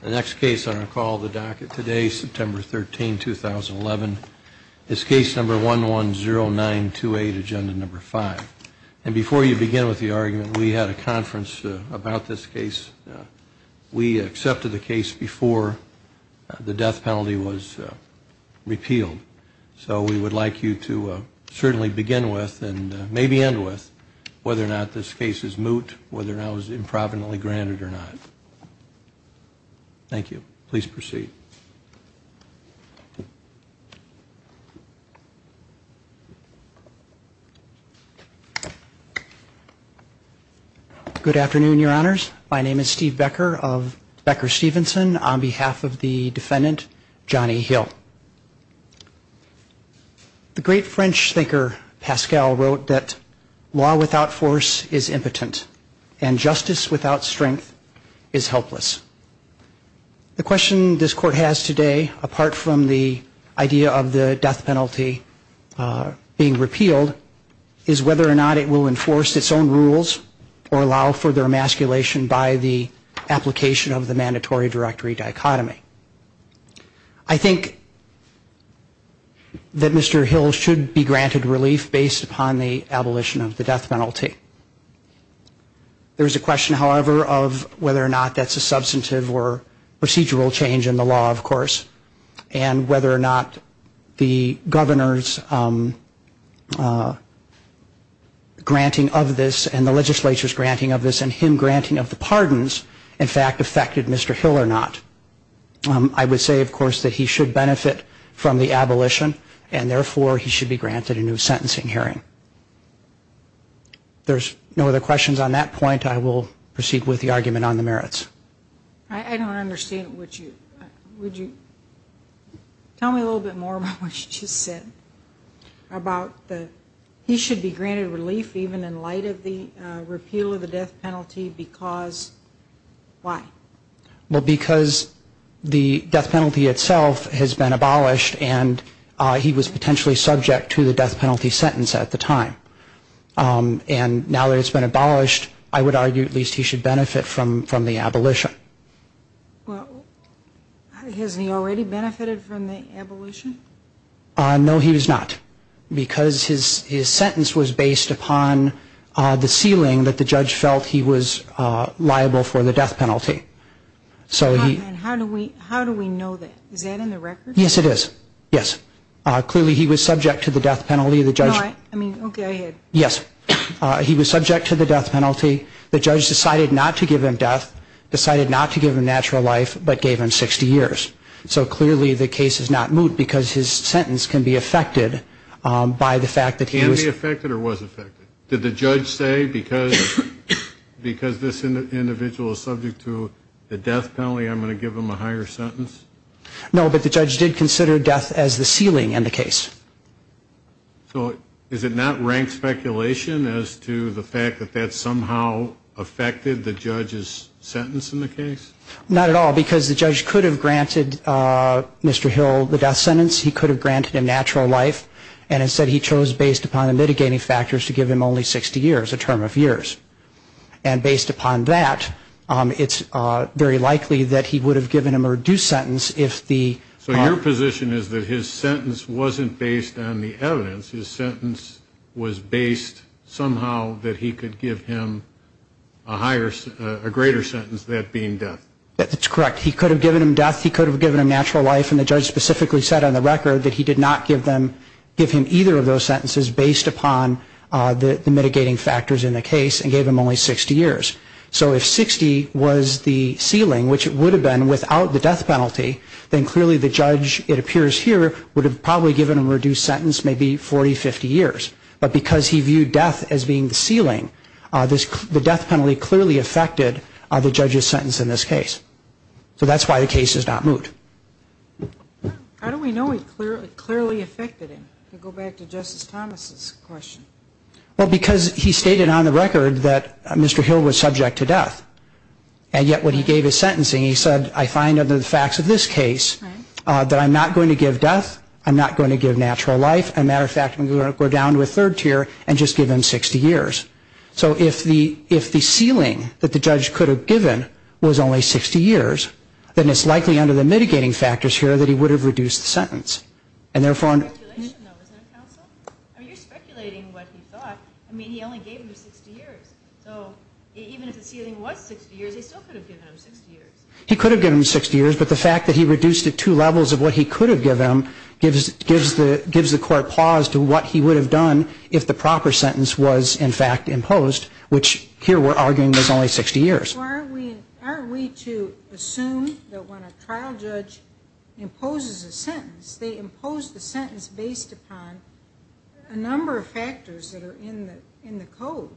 The next case on our call to the docket today, September 13, 2011, is case number 110928, agenda number five. And before you begin with the argument, we had a conference about this case. We accepted the case before the death penalty was repealed. So we would like you to certainly begin with, and maybe end with, whether or not this case is moot, whether or not it was improvidently granted or not. Thank you. Please proceed. Steve Becker Good afternoon, your honors. My name is Steve Becker of Becker Stevenson on behalf of the defendant, Johnny Hill. The great French thinker Pascal wrote that law without force is impotent, and justice without strength is helpless. The question this court has today, apart from the idea of the death penalty being repealed, is whether or not it will enforce its own rules or allow further emasculation by the application of the mandatory directory dichotomy. I think that Mr. Hill should be granted relief based upon the abolition of the death penalty. There is a question, however, of whether or not that's a substantive or procedural change in the law, of course, and whether or not the governor's granting of this and the legislature's granting of this and him granting of the pardons, in fact, affected Mr. Hill or not. I would say, of course, that he should benefit from the abolition, and therefore, he should be granted a new sentencing hearing. There's no other questions on that point. I will proceed with the argument on the merits. Judge Cardone I don't understand. Would you tell me a little bit more about what you just said about he should be granted relief even in light of the repeal of the death penalty because why? Steve Becker Well, because the death penalty itself has been abolished, and he was potentially subject to the death penalty sentence at the time. And now that it's been abolished, I would argue at least he should benefit from the abolition. Judge Cardone Well, hasn't he already benefited from the abolition? Steve Becker No, he has not because his sentence was based upon the ceiling that the judge felt he was liable for the death penalty. Judge Cardone How do we know that? Is that in the records? Steve Becker Yes, it is. Yes. Clearly, he was subject to the death penalty. The judge decided not to give him death, decided not to give him natural life, but gave him 60 years. So clearly, the case is not moot because his sentence can be affected by the fact that he was Judge Cardone Can be affected or was affected? Did the judge say because this individual is subject to the death penalty, I'm going to give him a higher sentence? Steve Becker No, but the judge did consider death as the ceiling in the case. Judge Cardone So is it not rank speculation as to the fact that that somehow affected the judge's sentence in the case? Steve Becker Not at all because the judge could have granted Mr. Hill the death sentence. He could have granted him natural life. And instead, he chose, based upon the mitigating factors, to give him only 60 years, a term of years. And based upon that, it's very likely that he would have given him a reduced sentence if the Judge Cardone So your position is that his sentence wasn't based on the evidence. His sentence was based somehow that he could give him a higher, a greater sentence, that being death. Steve Becker That's correct. He could have given him death. He could have given him natural life. And the judge specifically said on the record that he did not give him either of those sentences based upon the mitigating factors in the case and gave him only 60 years. So if 60 was the ceiling, which it would have been without the death penalty, then clearly the judge, it appears here, would have probably given him a reduced sentence, maybe 40, 50 years. But because he viewed death as being the ceiling, the death penalty clearly affected the judge's sentence in this case. So that's why the case is not moved. How do we know it clearly affected him? Go back to Justice Thomas's question. Well, because he stated on the record that Mr. Hill was subject to death. And yet when he gave his sentencing, he said, I find under the facts of this case that I'm not going to give death, I'm not going to give natural life. As a matter of fact, I'm going to go down to a third tier and just give him 60 years. So if the ceiling that the judge could have given was only 60 years, then it's likely under the mitigating factors here that he would have reduced the sentence. And therefore, I mean, you're speculating what he thought. I mean, he only gave him 60 years. So even if the ceiling was 60 years, he still could have given him 60 years. He could have given him 60 years, but the fact that he reduced it to levels of what he could have given him gives the court pause to what he would have done if the proper sentence was in fact imposed, which here we're arguing was only 60 years. So are we to assume that when a trial judge imposes a sentence, they impose the sentence based upon a number of factors that are in the code.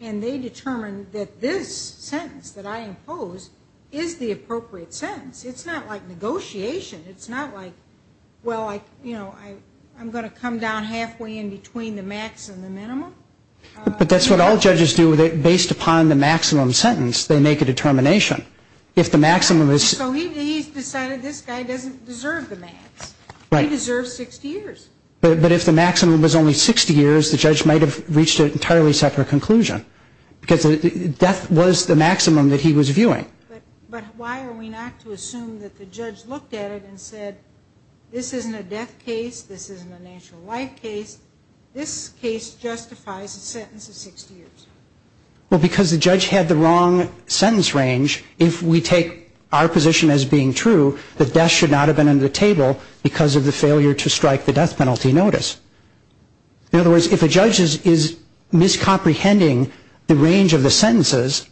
And they determine that this sentence that I impose is the appropriate sentence. It's not like negotiation. It's not like, well, I'm going to come down halfway in between the max and the minimum. But that's what all judges do. Based upon the maximum sentence, they make a determination. If the maximum is... So he's decided this guy doesn't deserve the max. Right. He deserves 60 years. But if the maximum was only 60 years, the judge might have reached an entirely separate conclusion. Because death was the maximum that he was viewing. But why are we not to assume that the judge looked at it and said, this isn't a death case. This case justifies a sentence of 60 years. Well, because the judge had the wrong sentence range. If we take our position as being true, that death should not have been under the table because of the failure to strike the death penalty notice. In other words, if a judge is miscomprehending the range of the sentences,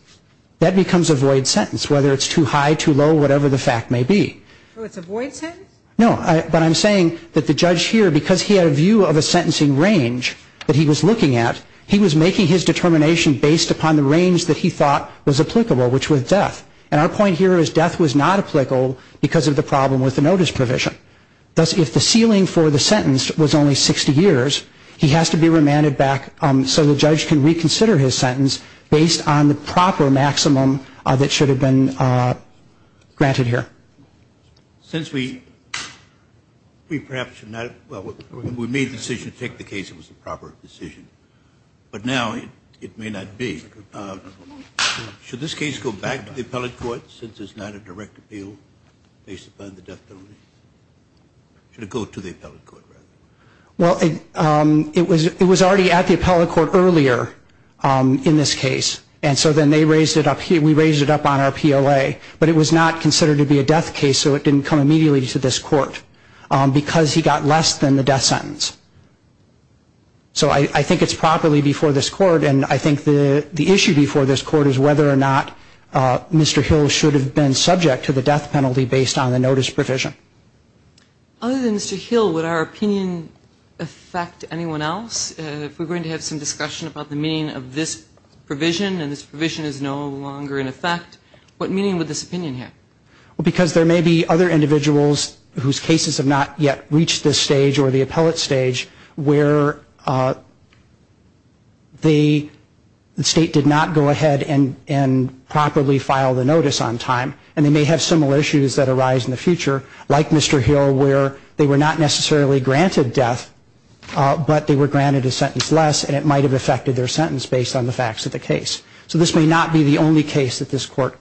that becomes a void sentence, whether it's too high, too low, whatever the fact may be. So it's a void sentence? No. But I'm saying that the judge here, because he had a view of a sentencing range that he was looking at, he was making his determination based upon the range that he thought was applicable, which was death. And our point here is death was not applicable because of the problem with the notice provision. Thus, if the ceiling for the sentence was only 60 years, he has to be remanded back so the judge can reconsider his sentence based on the proper maximum that should have been granted here. Since we perhaps should not, well, we made the decision to take the case that was a proper decision, but now it may not be. Should this case go back to the appellate court since it's not a direct appeal based upon the death penalty? Should it go to the appellate court, rather? Well, it was already at the appellate court earlier in this case. And so then they raised it up on our PLA. But it was not considered to be a death case, so it didn't come immediately to this court because he got less than the death sentence. So I think it's properly before this court. And I think the issue before this court is whether or not Mr. Hill should have been subject to the death penalty based on the notice provision. Other than Mr. Hill, would our opinion affect anyone else? If we're going to have some provision and this provision is no longer in effect, what meaning would this opinion have? Well, because there may be other individuals whose cases have not yet reached this stage or the appellate stage where the State did not go ahead and properly file the notice on time. And they may have similar issues that arise in the future, like Mr. Hill, where they were not necessarily granted death, but they were granted a sentence less and it might have affected their sentence based on the facts of the case. So this may not be the only case that this court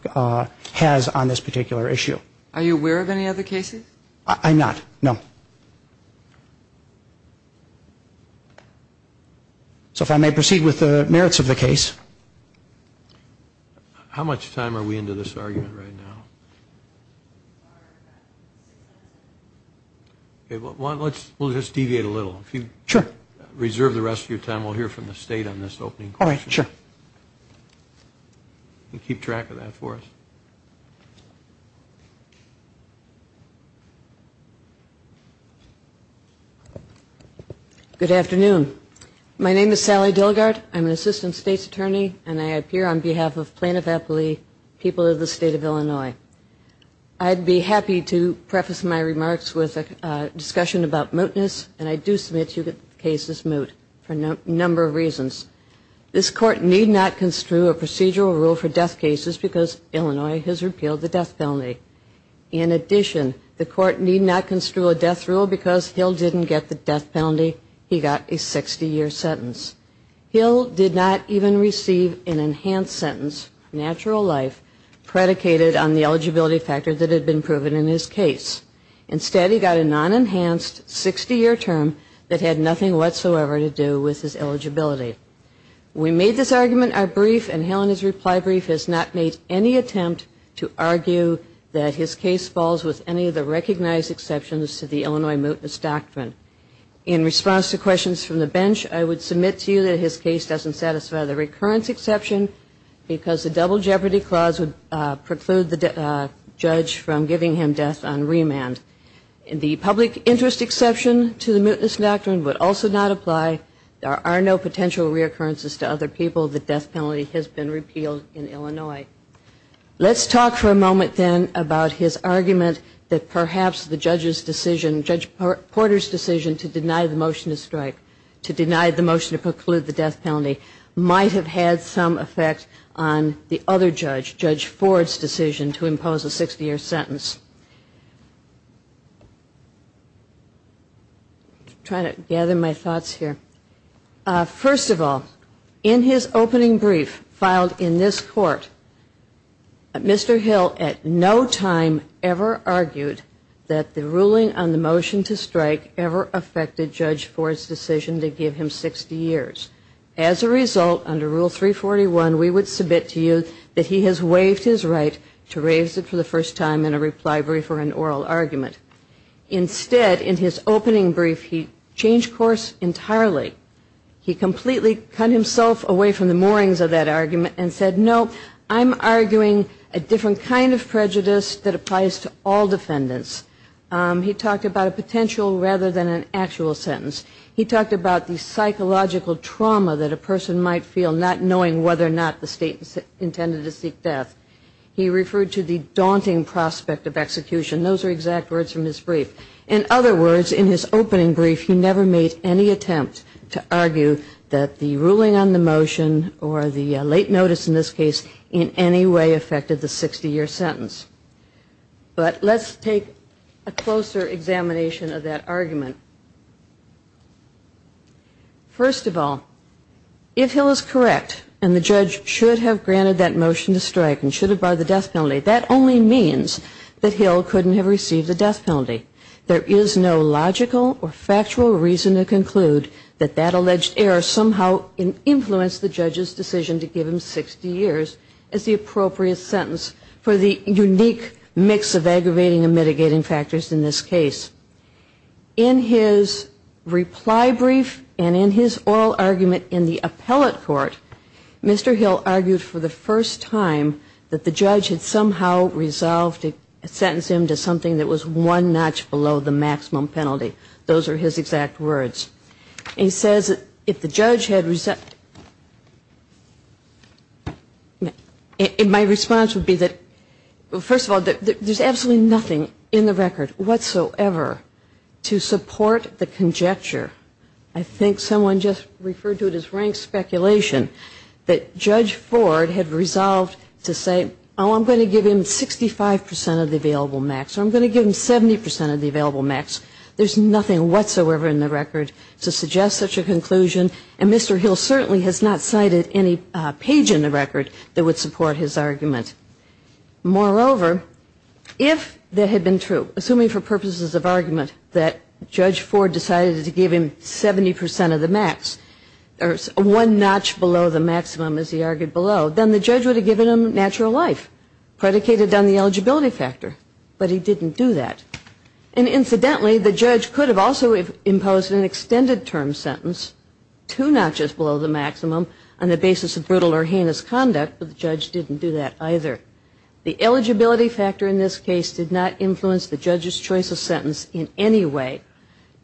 has on this particular issue. Are you aware of any other cases? I'm not, no. So if I may proceed with the merits of the case. How much time are we into this argument right now? We'll just deviate a little. If you reserve the rest of your time, we'll hear from the State on this opening question. Keep track of that for us. Good afternoon. My name is Sally Dillgard. I'm an Assistant State's Attorney and I appear on this panel. I'd be happy to preface my remarks with a discussion about mootness, and I do submit to you that the case is moot for a number of reasons. This court need not construe a procedural rule for death cases because Illinois has repealed the death penalty. In addition, the court need not construe a death rule because Hill didn't get the death penalty. He got a 60-year sentence. Hill did not even receive an enhanced sentence, natural life, predicated on the eligibility factor that had been proven in his case. Instead, he got a non-enhanced 60-year term that had nothing whatsoever to do with his eligibility. We made this argument our brief, and Hill in his reply brief has not made any attempt to argue that his case falls with any of the recognized exceptions to the Illinois mootness doctrine. In response to questions from the bench, I would submit to you that his case doesn't satisfy the recurrence exception because the double jeopardy clause would preclude the judge from giving him death on remand. The public interest exception to the mootness doctrine would also not apply. There are no potential reoccurrences to other people. The death penalty has been repealed in Illinois. Let's talk for a moment, then, about his argument that perhaps the judge's decision, Judge Porter's decision to deny the motion to strike, to deny the motion to preclude the death penalty, might have had some effect on the other judge, Judge Ford's decision to impose a 60-year sentence. Trying to gather my thoughts here. First of all, in his opening brief filed in this court, Mr. Hill at no time ever argued that the ruling on the motion to strike ever affected Judge Ford's decision to give him 60 years. As a result, under Rule 341, we would submit to you that he has waived his right to raise it for the first time in a reply brief or an oral argument. Instead, in his opening brief, he changed course entirely. He completely cut himself away from the moorings of that argument and said, no, I'm arguing a different kind of prejudice that applies to all defendants. He talked about a potential rather than an actual sentence. He talked about the psychological trauma that a person might feel not knowing whether or not the state intended to seek death. He referred to the daunting prospect of execution. Those are exact words from his brief. In other words, in his opening brief, he never made any attempt to argue that the ruling on the motion or the late notice in this case in any way affected the 60-year sentence. But let's take a closer examination of that argument. First of all, if Hill is correct and the judge should have granted that motion to strike and should have barred the death penalty, that only means that Hill couldn't have received the death penalty. There is no logical or factual reason to conclude that that alleged error somehow influenced the judge's decision to give him 60 years as the appropriate sentence for the unique mix of aggravating and mitigating factors in this case. In his reply brief and in his oral argument in the appellate court, Mr. Hill argued for the first time that the judge had somehow resolved to sentence him to something that was one notch below the maximum penalty. Those are his exact words. And he says if the judge had, my response would be that, first of all, there's absolutely nothing in the record whatsoever to support the conjecture. I think someone just referred to it as rank speculation, that Judge Ford had resolved to say, oh, I'm going to give him 65 percent of the available max or I'm going to give him 70 percent of the available max. There's nothing whatsoever in the record to suggest such a conclusion. And Mr. Hill certainly has not cited any page in the record that would support his argument. Moreover, if that had been true, assuming for purposes of argument that Judge Ford decided to give him 70 percent of the max or one notch below the maximum as he argued below, then the judge would have given him natural life, predicated on the eligibility factor. But he didn't do that. And incidentally, the judge could have also imposed an extended term sentence, two notches below the maximum, on the basis of brutal or heinous conduct, but the judge didn't do that either. The eligibility factor in this case did not influence the judge's choice of sentence in any way,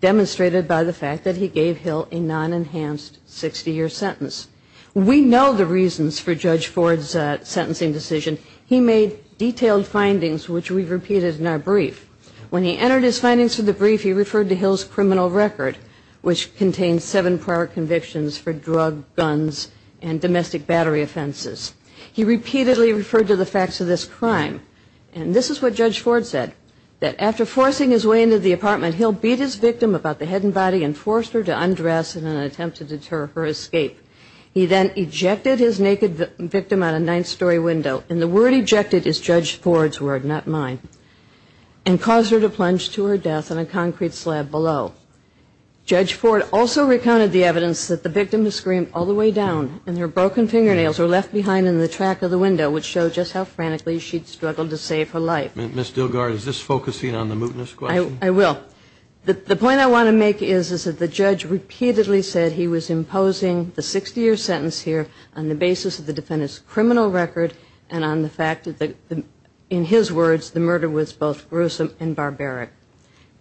demonstrated by the fact that he gave Hill a non-enhanced 60-year sentence. We know the reasons for Judge Ford's sentencing decision. He made detailed findings, which we've repeated in our brief. When he entered his findings for the brief, he referred to Hill's criminal record, which contains seven prior convictions for drug, guns, and domestic battery offenses. He repeatedly referred to the facts of this crime. And this is what Judge Ford said, that after forcing his way into the apartment, Hill beat his victim about the head and body and forced her to undress in an attempt to deter her escape. He then ejected his naked victim out a ninth story window. And the word ejected is Judge Ford's word, not mine. And caused her to plunge to her death in a concrete slab below. Judge Ford also recounted the evidence that the victim had screamed all the way down, and her broken fingernails were left behind in the track of the window, which showed just how frantically she'd struggled to save her life. Ms. Dillgard, is this focusing on the mootness question? I will. The point I want to make is, is that the judge repeatedly said he was imposing the 60-year sentence here on the basis of the fact that, in his words, the murder was both gruesome and barbaric.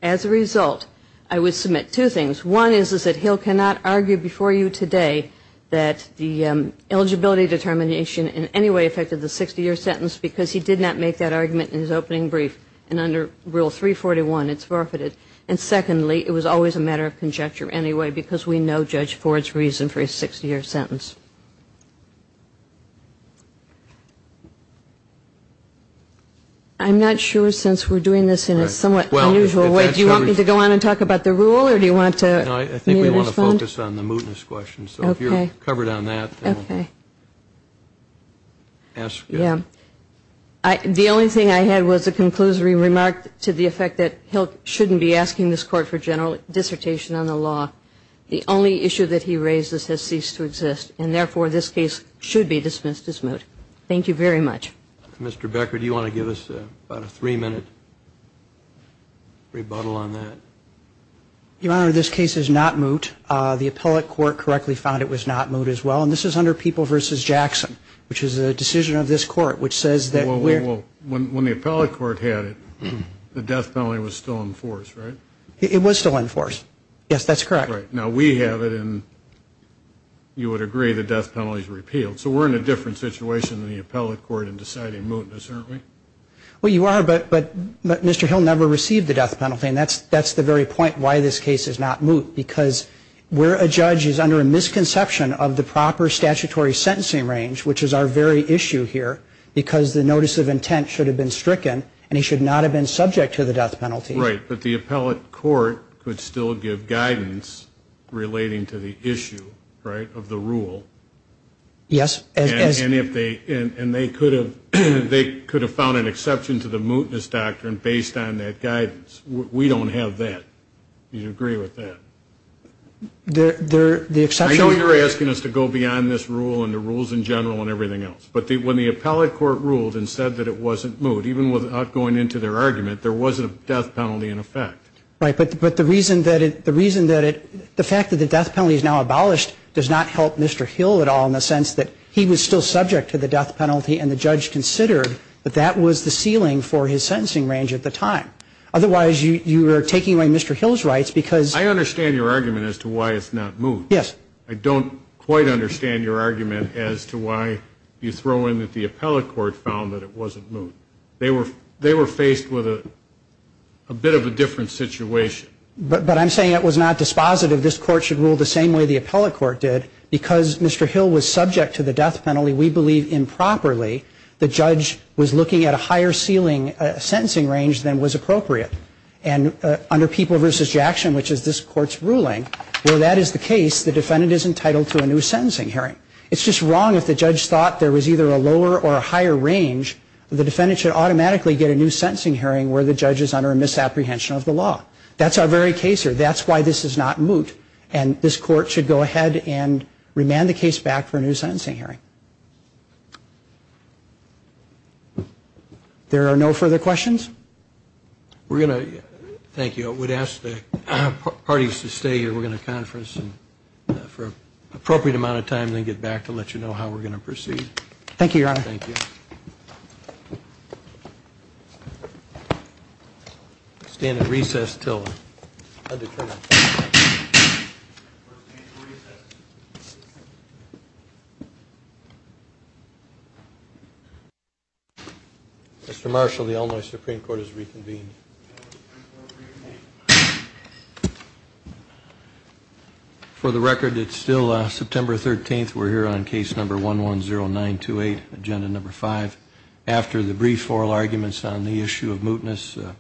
As a result, I would submit two things. One is that Hill cannot argue before you today that the eligibility determination in any way affected the 60-year sentence because he did not make that argument in his opening brief. And under Rule 341, it's forfeited. And secondly, it was always a matter of conjecture anyway because we know Judge Ford's reason for his 60-year sentence. I'm not sure, since we're doing this in a somewhat unusual way. Do you want me to go on and talk about the rule, or do you want me to respond? No, I think we want to focus on the mootness question. So if you're covered on that, then we'll ask you. Yeah. The only thing I had was a conclusory remark to the effect that Hill shouldn't be asking this Court for general dissertation on the law. The only issue that he raises has ceased to exist, and therefore this case should be dismissed as moot. Thank you very much. Mr. Becker, do you want to give us about a three-minute rebuttal on that? Your Honor, this case is not moot. The appellate court correctly found it was not moot as well. And this is under People v. Jackson, which is a decision of this Court, which says that we're... Well, when the appellate court had it, the death penalty was still in force, right? It was still in force. Yes, that's correct. Right. Now, we have it, and you would agree the death penalty's repealed. So we're in a different situation than the appellate court in deciding mootness, aren't we? Well, you are, but Mr. Hill never received the death penalty, and that's the very point why this case is not moot, because we're a judge who's under a misconception of the proper statutory sentencing range, which is our very issue here, because the notice of intent should have been stricken, and he should not have been subject to the death penalty. Right. But the appellate court could still give guidance relating to the issue, right, of the rule. Yes, as... And they could have found an exception to the mootness doctrine based on that guidance. We don't have that. Do you agree with that? The exception... I know you're asking us to go beyond this rule and the rules in general and everything else, but when the appellate court ruled and said that it wasn't moot, even without going into their argument, there was a death penalty in effect. Right, but the reason that it... The fact that the death penalty is now abolished does not help Mr. Hill. It doesn't help Mr. Hill at all in the sense that he was still subject to the death penalty, and the judge considered that that was the ceiling for his sentencing range at the time. Otherwise, you are taking away Mr. Hill's rights, because... I understand your argument as to why it's not moot. Yes. I don't quite understand your argument as to why you throw in that the appellate court found that it wasn't moot. They were faced with a bit of a different situation. But I'm saying it was not dispositive. This court should rule the same way the appellate court did. Because Mr. Hill was subject to the death penalty, we believe improperly the judge was looking at a higher ceiling sentencing range than was appropriate. And under People v. Jackson, which is this court's ruling, where that is the case, the defendant is entitled to a new sentencing hearing. It's just wrong if the judge thought there was either a lower or a higher range. The defendant should believe that. And that's our very case here. That's why this is not moot. And this court should go ahead and remand the case back for a new sentencing hearing. There are no further questions? Thank you. I would ask the parties to stay here. We're going to conference for an appropriate amount of time and then get back to let you know how we're going to proceed. Thank you, Your Honor. Thank you. Stand at recess until undetermined. Mr. Marshall, the Illinois Supreme Court has reconvened. For the record, it's still September 13th. We're here on case number 110928. Agenda number five. After the brief oral arguments on the issue of mootness,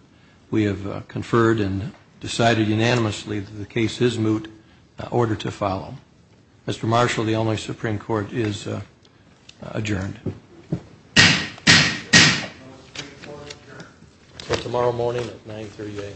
we have conferred and decided unanimously that the case is moot, order to follow. Mr. Marshall, the Illinois Supreme Court is adjourned. Until tomorrow morning at 938.